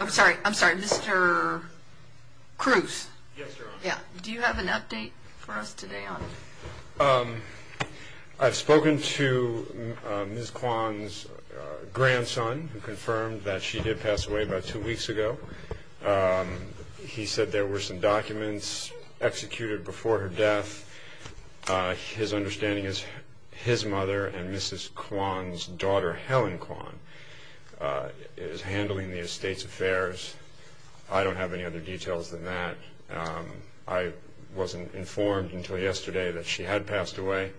I'm sorry I'm sorry mr. Cruz yeah do you have an update for us today on I've spoken to Ms. Kwon's grandson who confirmed that she did pass away about two weeks ago he said there were some documents executed before her death his understanding is his mother and Mrs. Kwon's daughter Helen Kwon is handling the estate's affairs I don't have any other details than that I wasn't informed until yesterday that she had passed away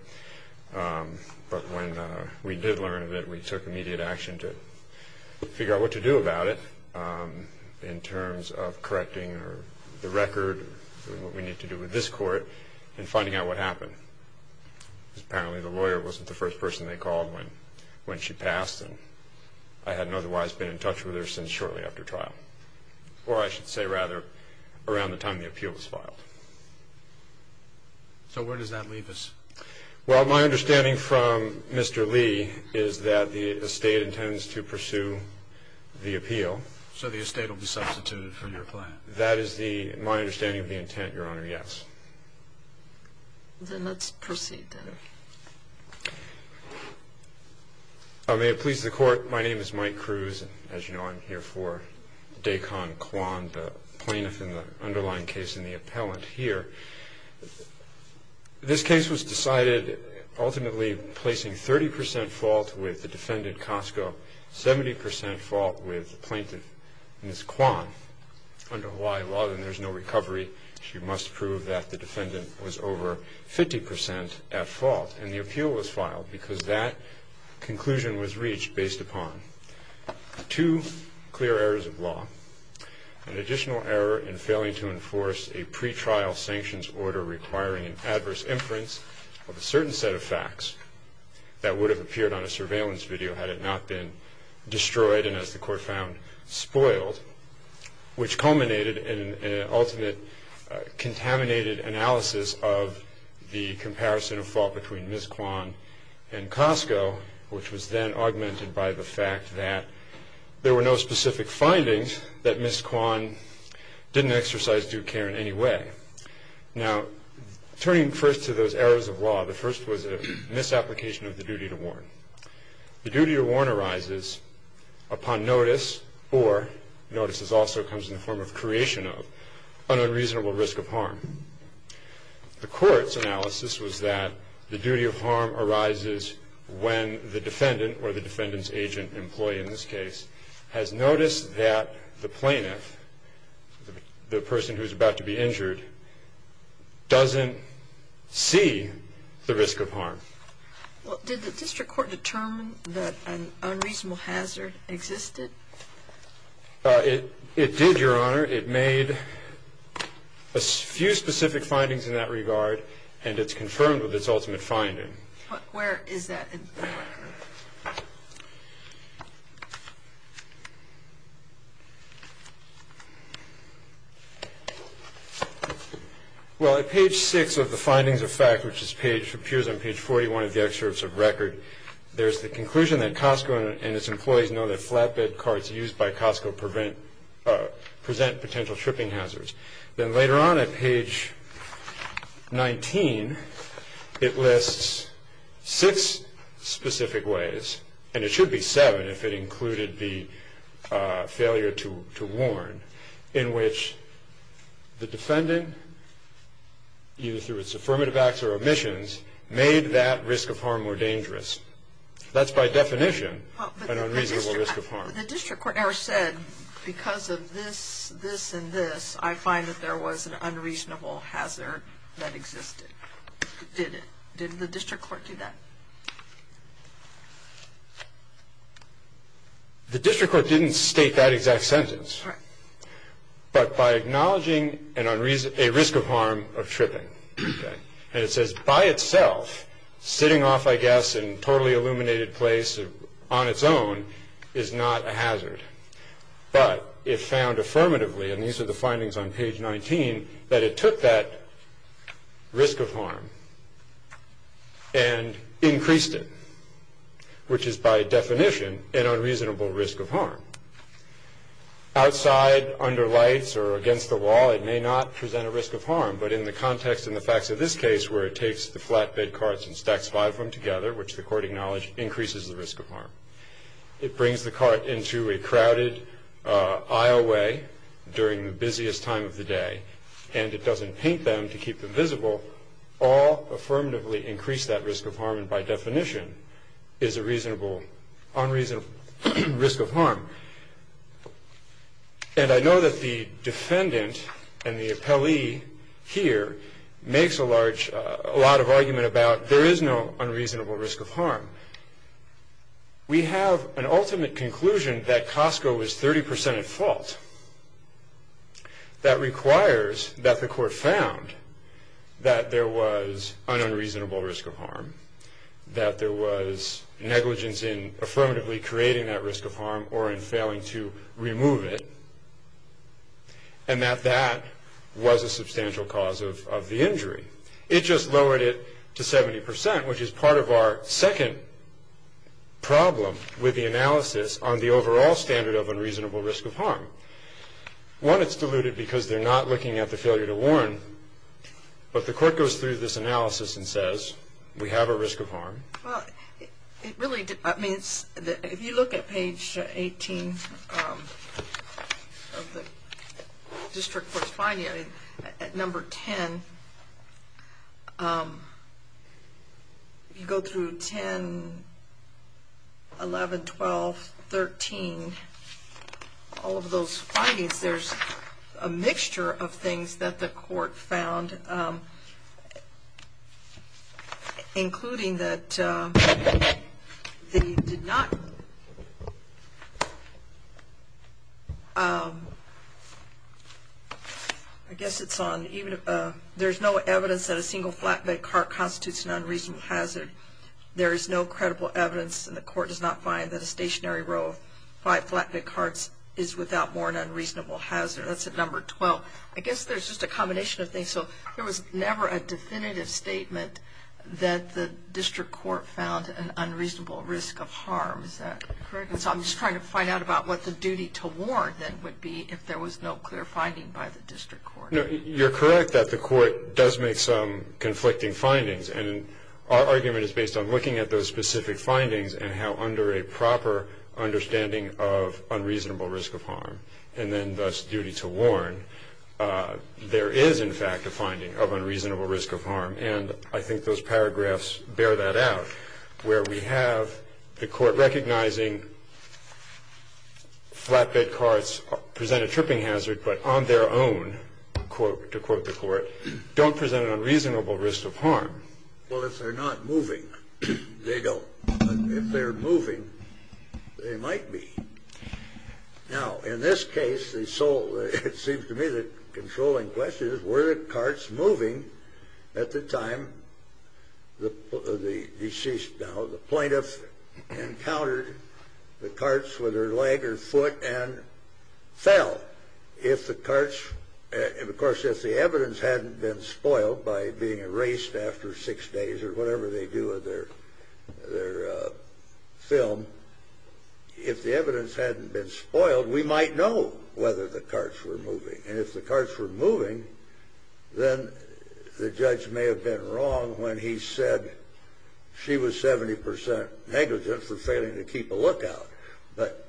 but when we did learn that we took immediate action to figure out what to do about it in terms of correcting the record we need to do with this court and finding out what happened apparently the lawyer wasn't the first person they called when when she passed and I hadn't otherwise been in touch with her since shortly after trial or I should say rather around the time the appeal was filed so where does that leave us well my understanding from mr. Lee is that the estate intends to pursue the appeal so the estate will be substituted for your plan that is the my let's proceed I may have pleased the court my name is Mike Cruz as you know I'm here for Dacon Kwon the plaintiff in the underlying case in the appellant here this case was decided ultimately placing 30% fault with the defendant Costco 70% fault with plaintiff miss Kwon under Hawaii law then there's no 60% at fault and the appeal was filed because that conclusion was reached based upon two clear errors of law an additional error in failing to enforce a pretrial sanctions order requiring an adverse inference of a certain set of facts that would have appeared on a surveillance video had it not been destroyed and as the court found spoiled which culminated in an ultimate contaminated analysis of the comparison of fault between miss Kwon and Costco which was then augmented by the fact that there were no specific findings that miss Kwon didn't exercise due care in any way now turning first to those errors of law the first was a misapplication of the duty to warn the duty to warn arises upon notice or notices also comes in the form of creation of an unreasonable risk of harm the court's analysis was that the duty of harm arises when the defendant or the defendant's agent employee in this case has noticed that the plaintiff the person who's about to be injured doesn't see the risk of harm did the district court determine that an it made a few specific findings in that regard and it's confirmed with its ultimate finding where is that well at page 6 of the findings of fact which is page appears on page 41 of the excerpts of record there's the conclusion that Costco and its employees know that flatbed carts used by Costco prevent present potential tripping hazards then later on at page 19 it lists six specific ways and it should be seven if it included the failure to warn in which the defendant you through its affirmative acts or omissions made that risk of harm or dangerous that's by the district court said because of this this and this I find that there was an unreasonable hazard that existed did it did the district court do that the district court didn't state that exact sentence but by acknowledging and unreasonable risk of harm of tripping and it says by itself sitting off I place on its own is not a hazard but it found affirmatively and these are the findings on page 19 that it took that risk of harm and increased it which is by definition an unreasonable risk of harm outside under lights or against the wall it may not present a risk of harm but in the context in the facts of this case where it takes the flatbed carts and stacks five from together which the increases the risk of harm it brings the cart into a crowded aisle way during the busiest time of the day and it doesn't paint them to keep them visible all affirmatively increase that risk of harm and by definition is a reasonable unreasonable risk of harm and I know that the defendant and the appellee here makes a large a lot of argument about there is no unreasonable risk of harm we have an ultimate conclusion that Costco is 30% at fault that requires that the court found that there was an unreasonable risk of harm that there was negligence in affirmatively creating that risk of harm or in failing to remove it and that that was a substantial cause of the injury it just problem with the analysis on the overall standard of unreasonable risk of harm one it's diluted because they're not looking at the failure to warn but the court goes through this analysis and says we have a risk of harm it really means that if you look at page 18 district court's finding at number 10 um you go through 10 11 12 13 all of those findings there's a mixture of things that the court found um including that uh they did not um I guess it's on even if there's no evidence that a single flatbed cart constitutes an unreasonable hazard there is no credible evidence and the court does not find that a stationary row five flatbed carts is without more than reasonable hazard that's at number 12 I guess there's just a combination of things so there was never a definitive statement that the district court found unreasonable risk of harm so I'm just trying to find out about what the duty to war that would be if there was no clear finding by the district you're correct that the court does make some conflicting findings and our argument is based on looking at those specific findings and how under a proper understanding of unreasonable risk of harm and then thus duty to warn there is in fact a finding of unreasonable risk of harm and I think those paragraphs bear that out where we have the court recognizing flatbed carts present a tripping hazard but on their own quote to quote the court don't present an unreasonable risk of harm well if they're not moving they don't if they're moving they might be now in this case they sold it seems to me that controlling question is where the carts moving at the time the deceased now the plaintiff encountered the carts with her leg or foot and fell if the carts and of course if the evidence hadn't been spoiled by being erased after six days or whatever they do with their their film if the evidence hadn't been spoiled we might know whether the carts were moving and if the carts were moving then the judge may have been wrong when he said she was 70% negligent for failing to keep a lookout but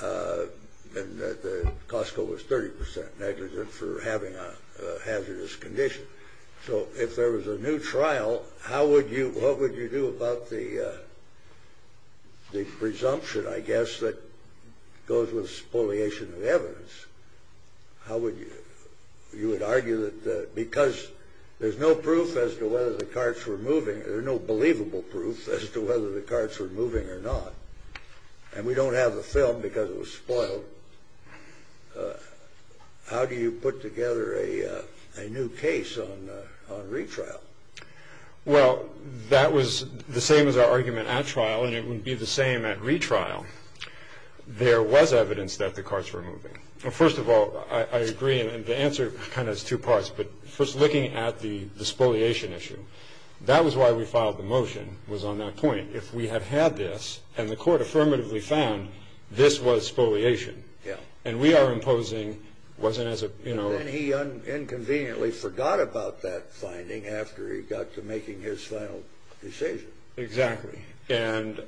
the Costco was 30% negligent for having a hazardous condition so if there was a new trial how would you what would you do about the the presumption I how would you would argue that because there's no proof as to whether the carts were moving there no believable proof as to whether the carts were moving or not and we don't have a film because it was spoiled how do you put together a new case on retrial well that was the same as our argument at trial and it would be the same at retrial there was evidence that the carts were moving first of all I agree and the answer kind of two parts but first looking at the the spoliation issue that was why we filed the motion was on that point if we had had this and the court affirmatively found this was spoliation yeah and we are imposing wasn't as a you know he unconveniently forgot about that finding after he got to making his final decision exactly and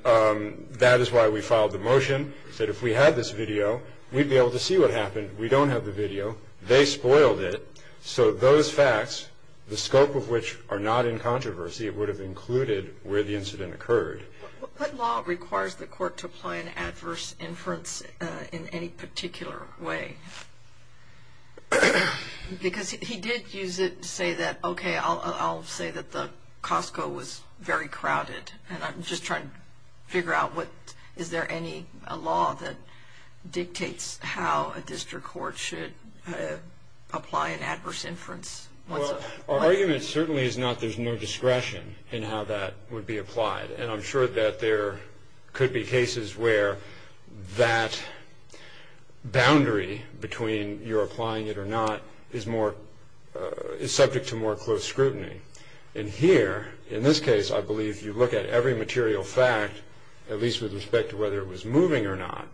that is why we filed the motion said if we had this video we'd be able to see what happened we don't have the video they spoiled it so those facts the scope of which are not in controversy it would have included where the incident occurred what law requires the court to apply an adverse inference in any particular way because he did use it to say that okay I'll say that the Costco was very crowded and I'm just trying to figure out what is there any law that dictates how a district court should apply an adverse inference well our argument certainly is not there's no discretion in how that would be applied and I'm boundary between you're applying it or not is more is subject to more close scrutiny in here in this case I believe you look at every material fact at least with respect to whether it was moving or not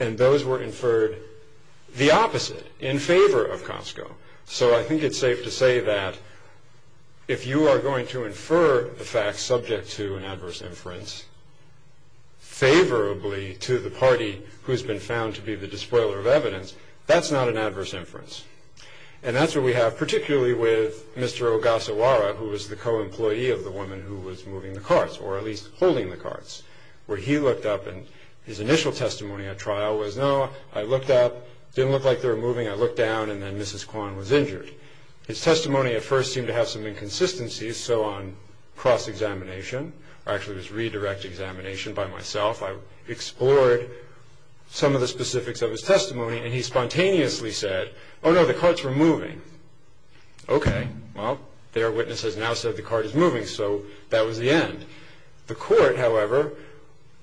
and those were inferred the opposite in favor of Costco so I think it's safe to say that if you are going to infer the facts subject to an adverse inference favorably to the party who's been found to be the despoiler of evidence that's not an adverse inference and that's what we have particularly with Mr. Ogasawara who was the co-employee of the woman who was moving the cards or at least holding the cards where he looked up and his initial testimony at trial was no I looked up didn't look like they're moving I looked down and then mrs. Kwan was injured his testimony at first seemed to have some inconsistencies so on cross-examination actually was redirect examination by myself I explored some of the specifics of his testimony and he spontaneously said oh no the carts were moving okay well their witness has now said the card is moving so that was the end the court however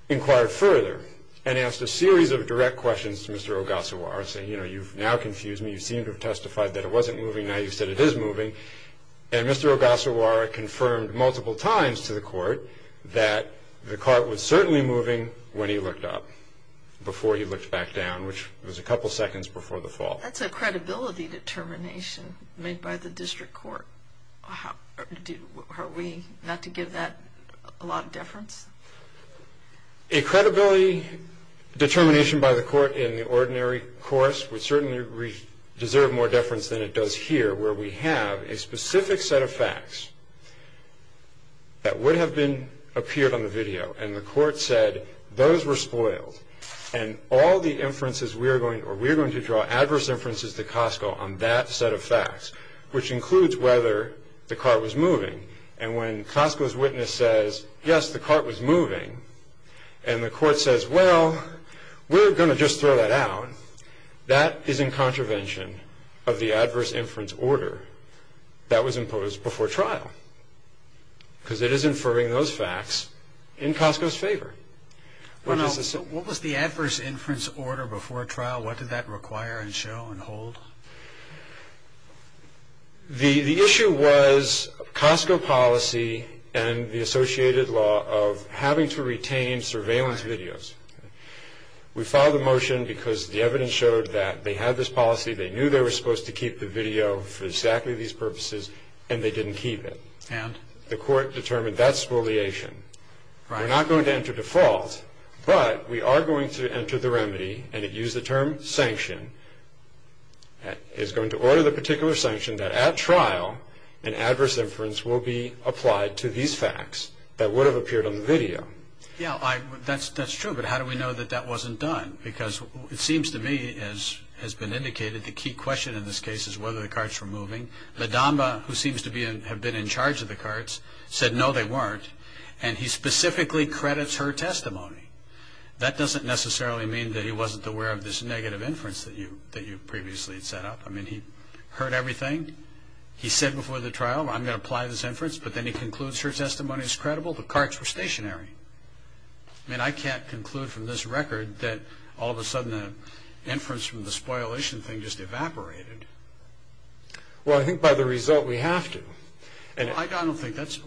inquired further and asked a series of direct questions to mr. Ogasawara say you know you've now confused me you seem to have testified that it wasn't moving now you said it is moving and mr. Ogasawara confirmed multiple times to the court that the cart was certainly moving when he looked up before you looked back down which was a couple seconds before the fall that's a credibility determination made by the district court how do we not to give that a lot of deference a credibility determination by the court in the where we have a specific set of facts that would have been appeared on the video and the court said those were spoiled and all the inferences we are going or we're going to draw adverse inferences to Costco on that set of facts which includes whether the car was moving and when Costco's witness says yes the cart was moving and the court says well we're going to just throw that that is in contravention of the adverse inference order that was imposed before trial because it is inferring those facts in Costco's favor what was the adverse inference order before trial what did that require and show and hold the the issue was Costco policy and the associated law of having to retain surveillance videos we filed a motion because the evidence showed that they had this policy they knew they were supposed to keep the video for exactly these purposes and they didn't keep it and the court determined that spoliation we're not going to enter default but we are going to enter the remedy and it used the term sanction is going to order the particular sanction that at trial an adverse inference will be applied to these facts that would that's that's true but how do we know that that wasn't done because it seems to me as has been indicated the key question in this case is whether the carts were moving Madama who seems to be in have been in charge of the carts said no they weren't and he specifically credits her testimony that doesn't necessarily mean that he wasn't aware of this negative inference that you that you previously set up I mean he heard everything he said before the trial I'm the carts were stationary and I can't conclude from this record that all of a sudden inference from the spoliation thing just evaporated well I think by the result we have to and I don't think that's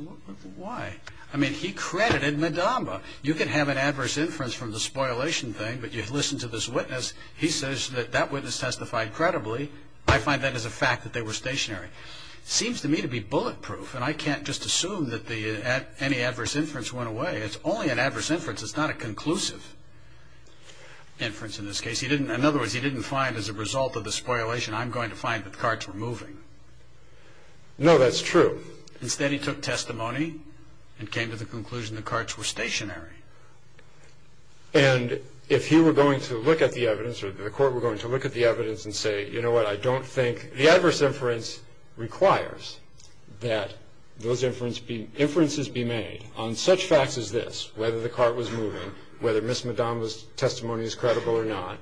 why I mean he credited Madama you can have an adverse inference from the spoliation thing but you listen to this witness he says that that witness testified credibly I find that as a fact that they were stationary seems to me to be bulletproof and I can't just assume that the at any adverse inference went away it's only an adverse inference it's not a conclusive inference in this case he didn't in other words he didn't find as a result of the spoliation I'm going to find that the carts were moving no that's true instead he took testimony and came to the conclusion the carts were stationary and if he were going to look at the evidence or the court were going to look at the evidence and say you know what I don't think the adverse inference requires that those inference be inferences be made on such facts as this whether the cart was moving whether miss Madonna's testimony is credible or not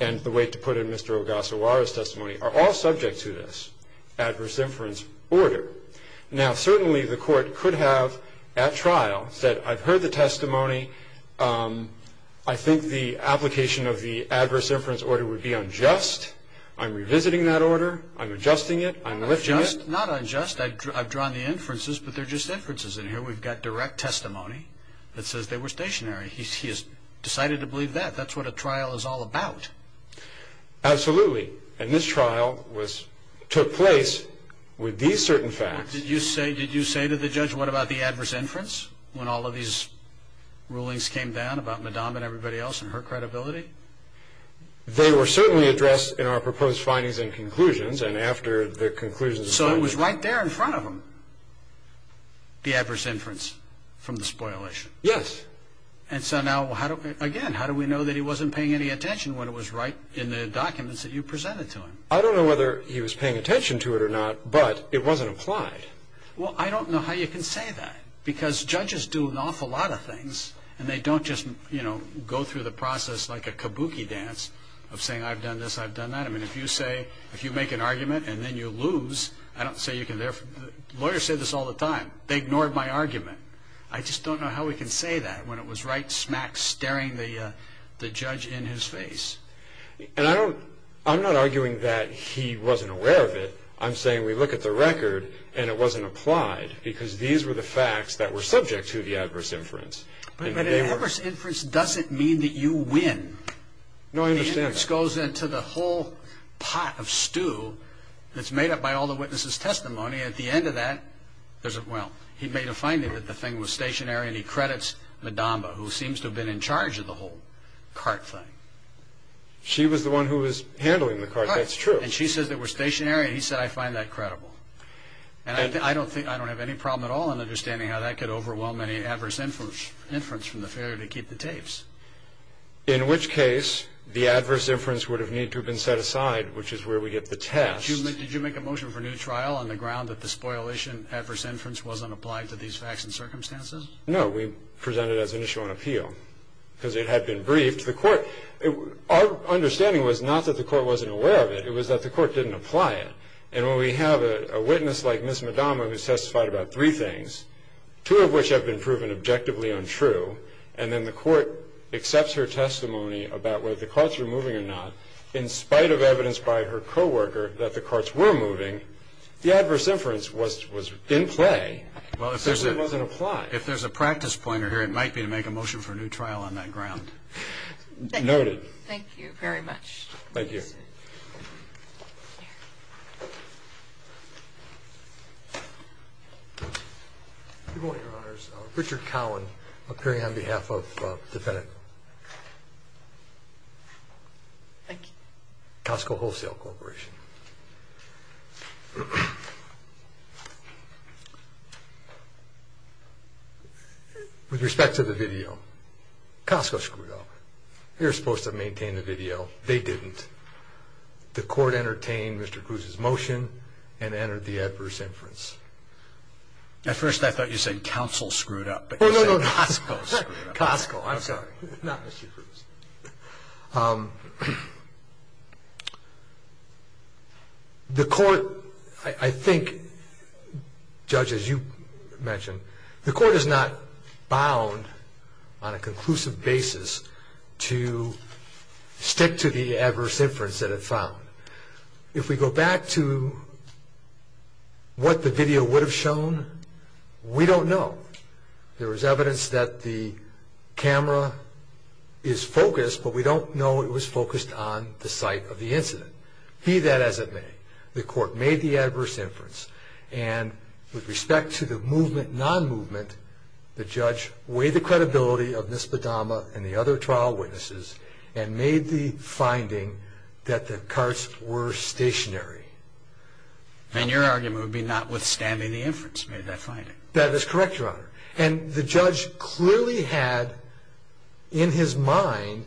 and the way to put in mr. Ogasawara's testimony are all subject to this adverse inference order now certainly the court could have at trial said I've heard the testimony I think the application of the adverse inference order would be unjust I'm revisiting that order I'm adjusting it I'm not unjust I've drawn the inferences but they're just inferences and here we've got direct testimony that says they were stationary he's decided to believe that that's what a trial is all about absolutely and this trial was took place with these certain facts did you say did you say to the judge what about the adverse inference when all of these rulings came down about Madonna and her credibility they were certainly addressed in our proposed findings and conclusions and after the conclusions so it was right there in front of them the adverse inference from the spoilers yes and so now how do again how do we know that he wasn't paying any attention when it was right in the documents that you presented to him I don't know whether he was paying attention to it or not but it wasn't applied well I don't know how you can say that because judges do an awful lot of things and they don't just you know go through the process like a kabuki dance of saying I've done this I've done that I mean if you say if you make an argument and then you lose I don't say you can therefore lawyers say this all the time they ignored my argument I just don't know how we can say that when it was right smack staring the judge in his face and I don't I'm not arguing that he wasn't aware of it I'm saying we look at the record and it wasn't applied because these were the facts that were subject to the adverse inference but adverse inference doesn't mean that you win no I understand this goes into the whole pot of stew that's made up by all the witnesses testimony at the end of that there's a well he made a finding that the thing was stationary and he credits Madama who seems to have been in charge of the whole cart thing she was the one who was handling the car that's true and she says that were stationary he said I find that credible and I don't think I don't have any problem at all in understanding how that could overwhelm any adverse inference from the failure to keep the tapes in which case the adverse inference would have need to have been set aside which is where we get the test human did you make a motion for new trial on the ground that the spoilation adverse inference wasn't applied to these facts and circumstances no we presented as an issue on appeal because it had been briefed the court our understanding was not that the court wasn't aware of it it was that the court didn't apply it and when we have a witness like miss Madama who testified about three things two of them objectively untrue and then the court accepts her testimony about where the courts are moving or not in spite of evidence by her co-worker that the courts were moving the adverse inference was was in play well if there's it wasn't apply if there's a practice pointer here it might be to make a motion for a new trial on that ground noted thank you very much thank you Richard Collin appearing on behalf of dependent Costco wholesale corporation with respect to the video Costco screwed up you're supposed to maintain the video they didn't the court entertained mr. Cruz's motion and entered the adverse inference at first I thought you said counsel screwed up the court I think judges you mentioned the court is not bound on a conclusive basis to stick to the adverse inference that it found if we go back to what the video would have shown we don't know there was evidence that the camera is focused but we don't know it was focused on the site of the incident be that as it may the court made the adverse inference and with respect to the movement non-movement the judge way the credibility of this padama and the other trial witnesses and made the finding that the carts were stationary and your argument would be notwithstanding the inference made that finding that is correct your honor and the judge clearly had in his mind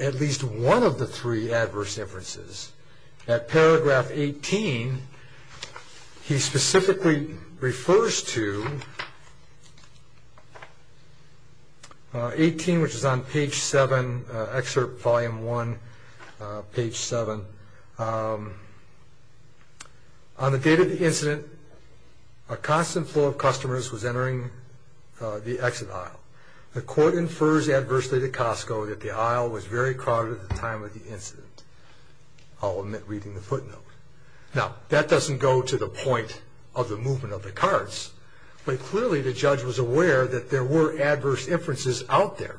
at least one of the three adverse inferences at paragraph 18 he specifically refers to 18 which is on page 7 excerpt volume 1 page 7 on the date of the incident a constant flow of customers was entering the exit aisle the court infers adversely to Costco that the aisle was very crowded at the time of the incident I'll admit reading the footnote now that doesn't go to the point of the movement of the carts but clearly the judge was aware that there were adverse inferences out there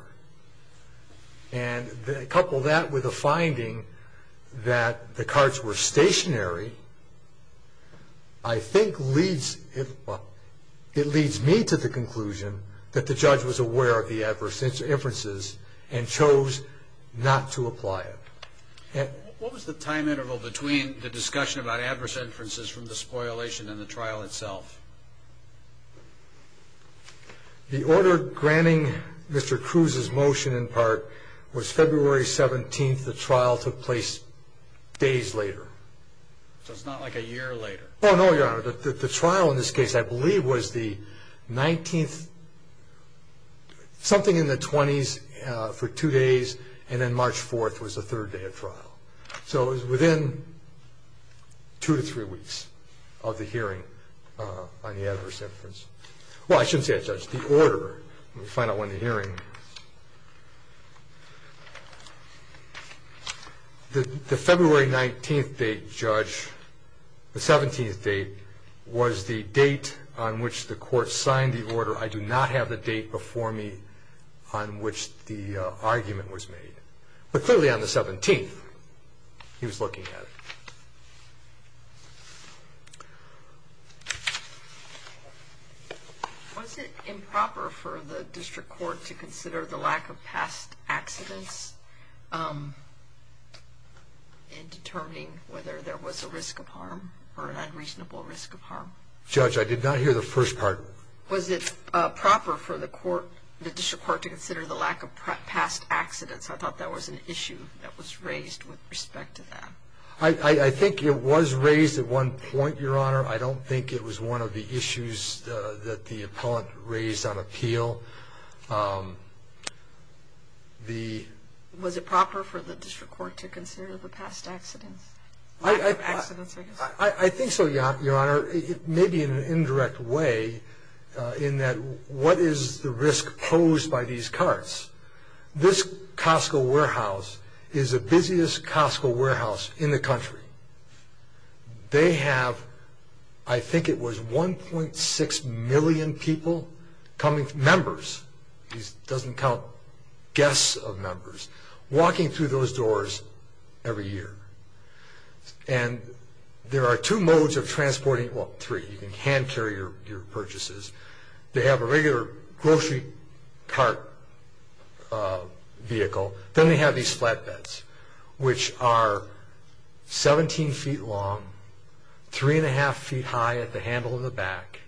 and a couple that with a finding that the carts were stationary I think leads it well it leads me to the conclusion that the judge was aware of the adverse inferences and chose not to apply it what was the time interval between the discussion about adverse inferences from the spoilation and the trial itself the order granting mr. Cruz's motion in part was February 17th the trial took place days later so it's not like a year later oh no your honor that the trial in this 20s for two days and then March 4th was the third day of trial so within two to three weeks of the hearing on the adverse inference well I shouldn't say judge the order we find out when the hearing the February 19th date judge the 17th date was the date on which the court signed the order I do not have the for me on which the argument was made but clearly on the 17th he was looking at was it improper for the district court to consider the lack of past accidents in determining whether there was a risk of harm or an unreasonable judge I did not hear the first part was it proper for the court to consider the lack of past accidents I thought that was an issue that was raised with respect to that I think it was raised at one point your honor I don't think it was one of the issues that the appellant raised on appeal the was it proper for your honor it may be an indirect way in that what is the risk posed by these carts this Costco warehouse is a busiest Costco warehouse in the country they have I think it was 1.6 million people coming members doesn't count guests of year and there are two modes of transporting what three hand carrier purchases they have a regular grocery cart vehicle then they have these flat beds which are 17 feet long three-and-a-half feet high at the handle of the back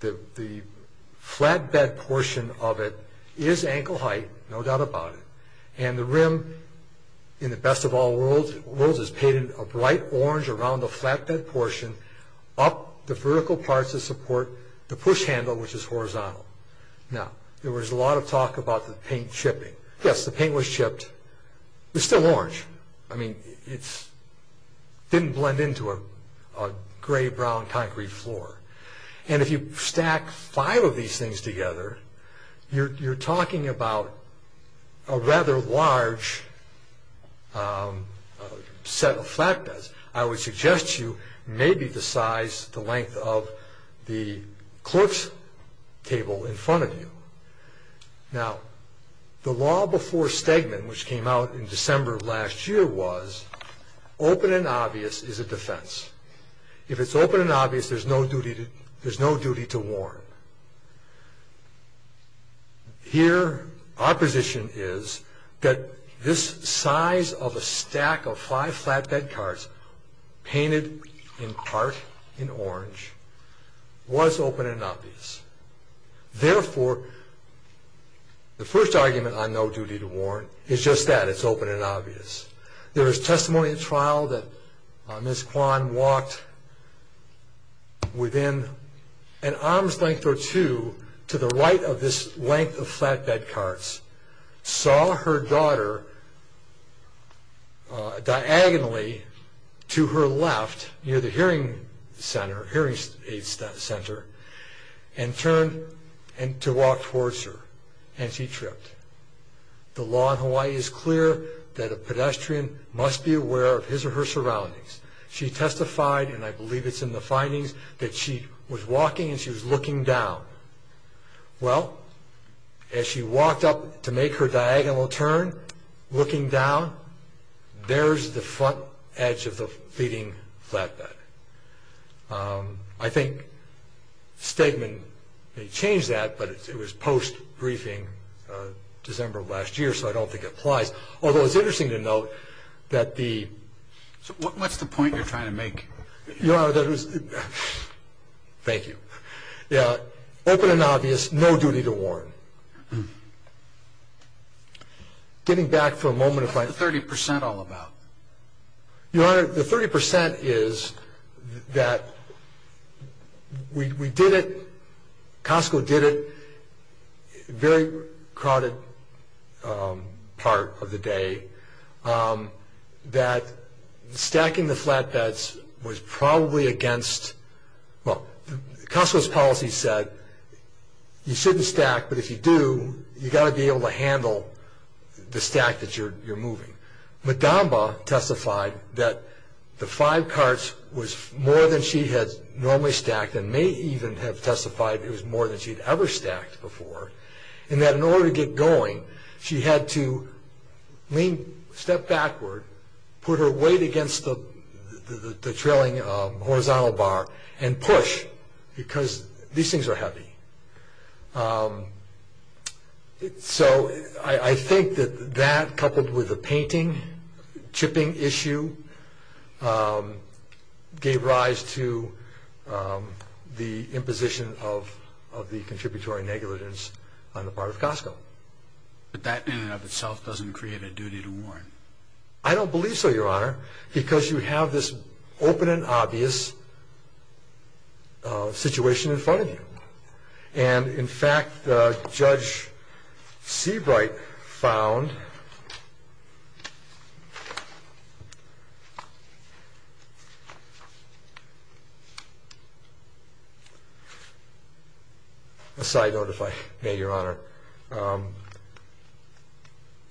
the flatbed portion of it is ankle height no doubt about it and the best of all world world is painted a bright orange around the flatbed portion up the vertical parts of support the push handle which is horizontal now there was a lot of talk about the paint chipping yes the paint was chipped there's still orange I mean it's didn't blend into a gray brown concrete floor and if you stack five of these things together you're talking about a rather large set of flatbeds I would suggest you maybe the size the length of the clerk's table in front of you now the law before Stegman which came out in December of last year was open and obvious is a defense if it's open and that this size of a stack of five flatbed cars painted in part in orange was open and obvious therefore the first argument on no duty to warrant is just that it's open and obvious there is testimony at trial that on this one walked within an arm's length or two to the right of this length of flatbed carts saw her daughter diagonally to her left near the hearing center hearing aid center and turned and to walk towards her and she tripped the law in Hawaii is clear that a pedestrian must be aware of his or her surroundings she testified and I believe it's in the findings that she was walking and she well as she walked up to make her diagonal turn looking down there's the front edge of the feeding flatbed I think statement change that but it was post briefing December last year so I don't think it applies although it's interesting to note that the what's the point you're trying to make you know that was thank you yeah open and obvious no duty to warn getting back for a moment if I 30% all about you are the 30% is that we did it Costco did it very crowded part of the day that stacking the flatbeds was probably against the policy said you shouldn't stack but if you do you got to be able to handle the stack that you're you're moving the Damba testified that the five carts was more than she had normally stacked and may even have testified it was more than she'd ever stacked before and that in order to get going she had to step backward put her weight against the trailing of horizontal bar and push because these things are happy so I think that that coupled with the painting chipping issue gave rise to the imposition of of the contributory negligence on the part of Costco that itself doesn't create a duty to warn I don't believe so your honor because you have this open and obvious situation in front of you and in fact the judge Seabright found aside notify your honor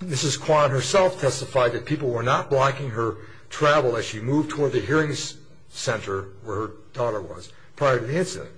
this is quite herself testified that people were not blocking her travel as she moved toward the hearings center where her daughter was prior to the incident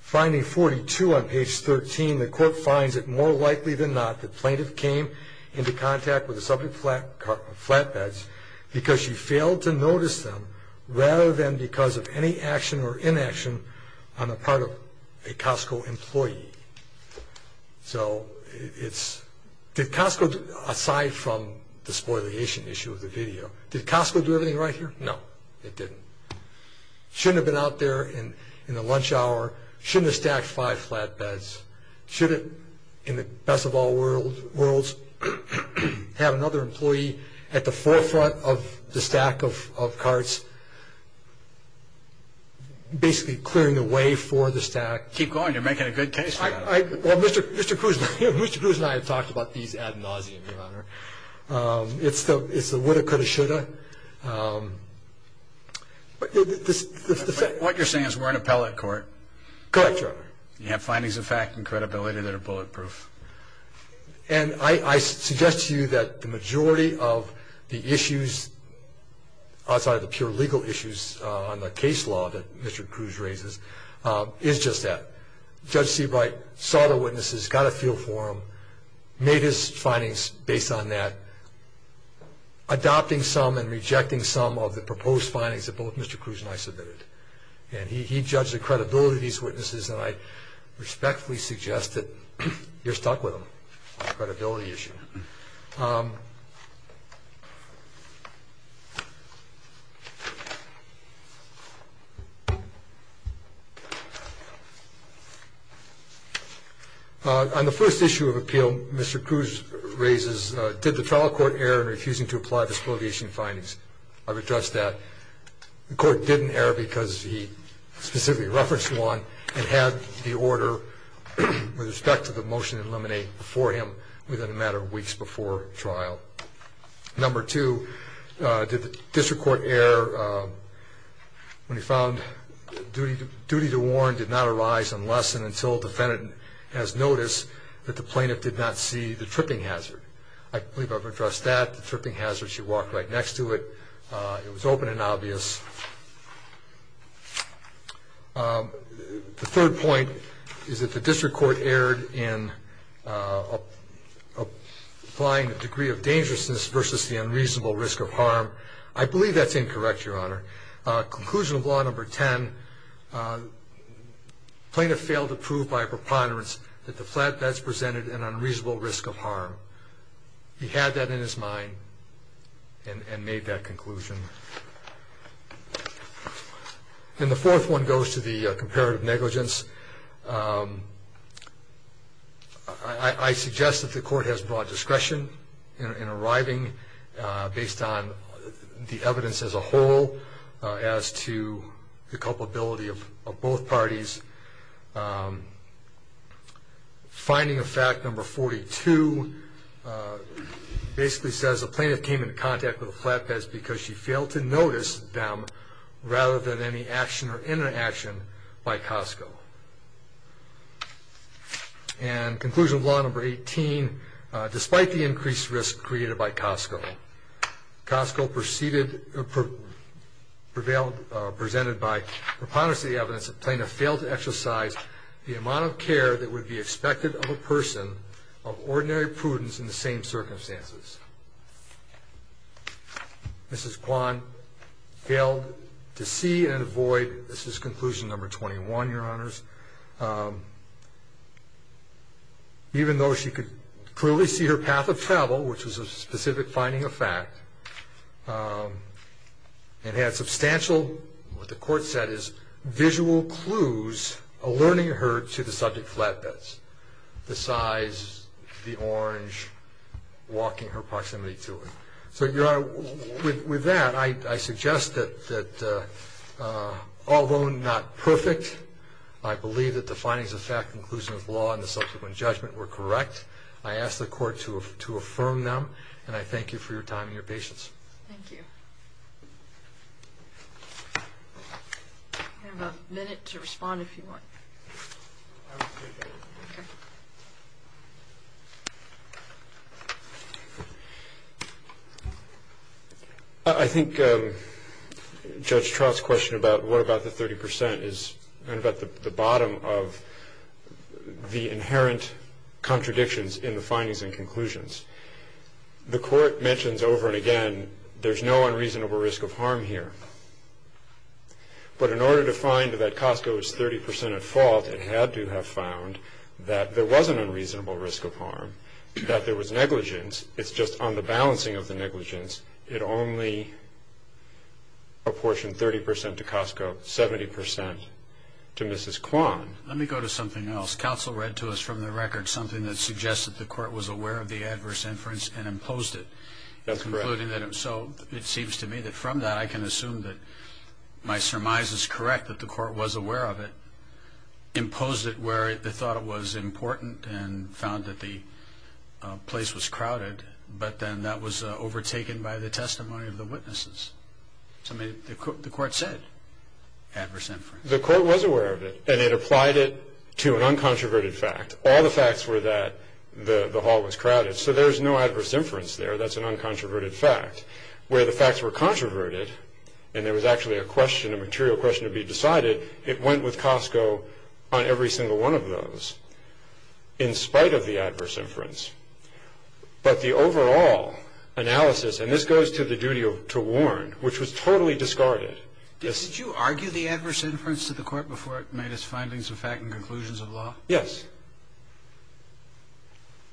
finding 42 on page 13 the court finds it more likely than not the plaintiff came into contact with the subject flatbeds because she failed to notice them rather than because of any action or inaction on the part of a Costco employee so it's Costco aside from the spoil the issue of the video Costco driven right here no shouldn't have been out there in the lunch hour should have stacked five flatbeds should it in the best of all worlds have another employee at the forefront of the stack of of carts basically clearing the way for the stack keep going to make it a good taste I talked about these it's the it's the what you're saying is we're in a pellet court you have findings of fact and credibility that are bulletproof and I I suggest to you that the majority of the issues outside of the pure legal issues on the case law that Mr. Cruz raises is just that judge Seabright saw the witnesses got a feel for him made his adopting some and rejecting some of the proposed findings of both Mr. Cruz and I submitted and he judged the credibility of these witnesses and I respectfully suggest that you're stuck with them credibility issue on the first issue of appeal Mr. Cruz raises did the trial court air and refusing to apply disprobation findings I've addressed that the court didn't air because he specifically referenced one and had the order with respect to the trial number two did the district court air when he found duty to duty to warn did not arise unless and until defendant has noticed that the plaintiff did not see the tripping hazard I believe I've addressed that the tripping hazard she walked right next to it it was open and obvious the third point is that the dangerous versus the unreasonable risk of harm I believe that's incorrect your honor conclusion of law number 10 plaintiff failed to prove by preponderance that the flatbeds presented an unreasonable risk of harm he had that in his mind and made that conclusion and the fourth one goes to the comparative negligence I suggest that the court has broad discretion and arriving based on the evidence as a whole as to the culpability of both parties finding a fact number 42 basically says the plaintiff came in contact with the flatbeds because she failed to notice them rather than any action or interaction by Costco and conclusion of law number 18 despite the increased risk created by Costco Costco preceded or prevailed presented by preponderance of the evidence the plaintiff failed to exercise the amount of care that would be expected of a person of ordinary prudence in the same circumstances mrs. Kwan failed to see and avoid this is conclusion number 21 your honors even though she could clearly see her path of travel which was a specific finding of fact and had substantial what the court said is visual clues alerting her to the subject flatbeds the size the orange walking her I believe that the findings of fact conclusion of law in the subsequent judgment were correct I asked the court to affirm them and I thank you for your time and your patience I think just trust question about what about the 30% is the bottom of the inherent contradictions in the findings and conclusions the court mentions over and again there's no unreasonable risk of harm here but in order to find that Costco is 30% of fault and had to have found that there was an unreasonable risk of harm that there was negligence it's just on the balancing of the negligence it only a portion 30% to Costco 70% to Mrs. Kwan let me go to something else counsel read to us from the record something that suggested the so it seems to me that from that I can assume that my surmise is correct that the court was aware of it imposed it where it was important and found that the place was crowded but then that was overtaken by the testimony of the witnesses the court said the court was aware of it and it applied it to an uncontroverted fact all the facts were that the hall was crowded so there's no inference there that's an uncontroverted fact where the facts were controverted and there was actually a question of material question to be decided it went with Costco on every single one of those in spite of the adverse inference but the overall analysis and this goes to the duty of to warn which was totally discarded did you argue the adverse inference to the court before it made its findings of fact and conclusions of law yes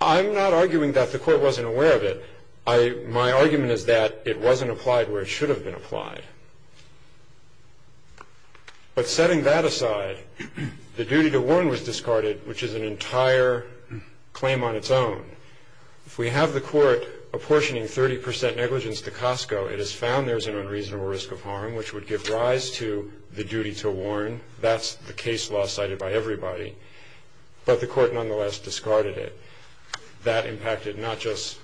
I'm not arguing that the court wasn't aware of it I my argument is that it wasn't applied where it should have been applied but setting that aside the duty to warn was discarded which is an entire claim on its own if we have the court apportioning 30% negligence to Costco it is found there's an unreasonable risk of harm which would give rise to the duty to warn that's the case law cited by not just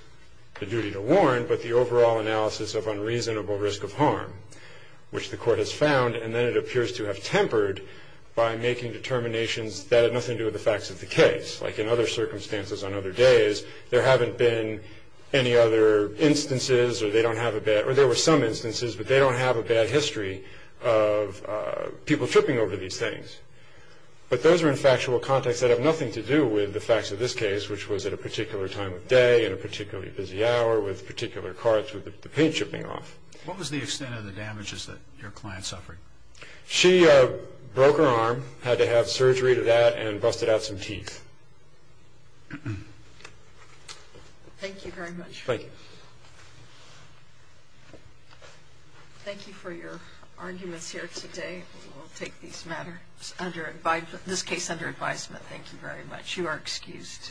the duty to warn but the overall analysis of unreasonable risk of harm which the court has found and then it appears to have tempered by making determinations that had nothing to do with the facts of the case like in other circumstances on other days there haven't been any other instances or they don't have a bet or there were some instances but they don't have a bad history of people tripping over these things but those are in factual context that have nothing to do with the facts of this case which was at a particular time of day in a particularly busy hour with particular cards with the paint chipping off what was the extent of the damages that your client suffering she broke her arm had to have surgery to that and busted out some teeth thank you very much thank you for your arguments here today take these matters under this case under advisement thank you very much you are excused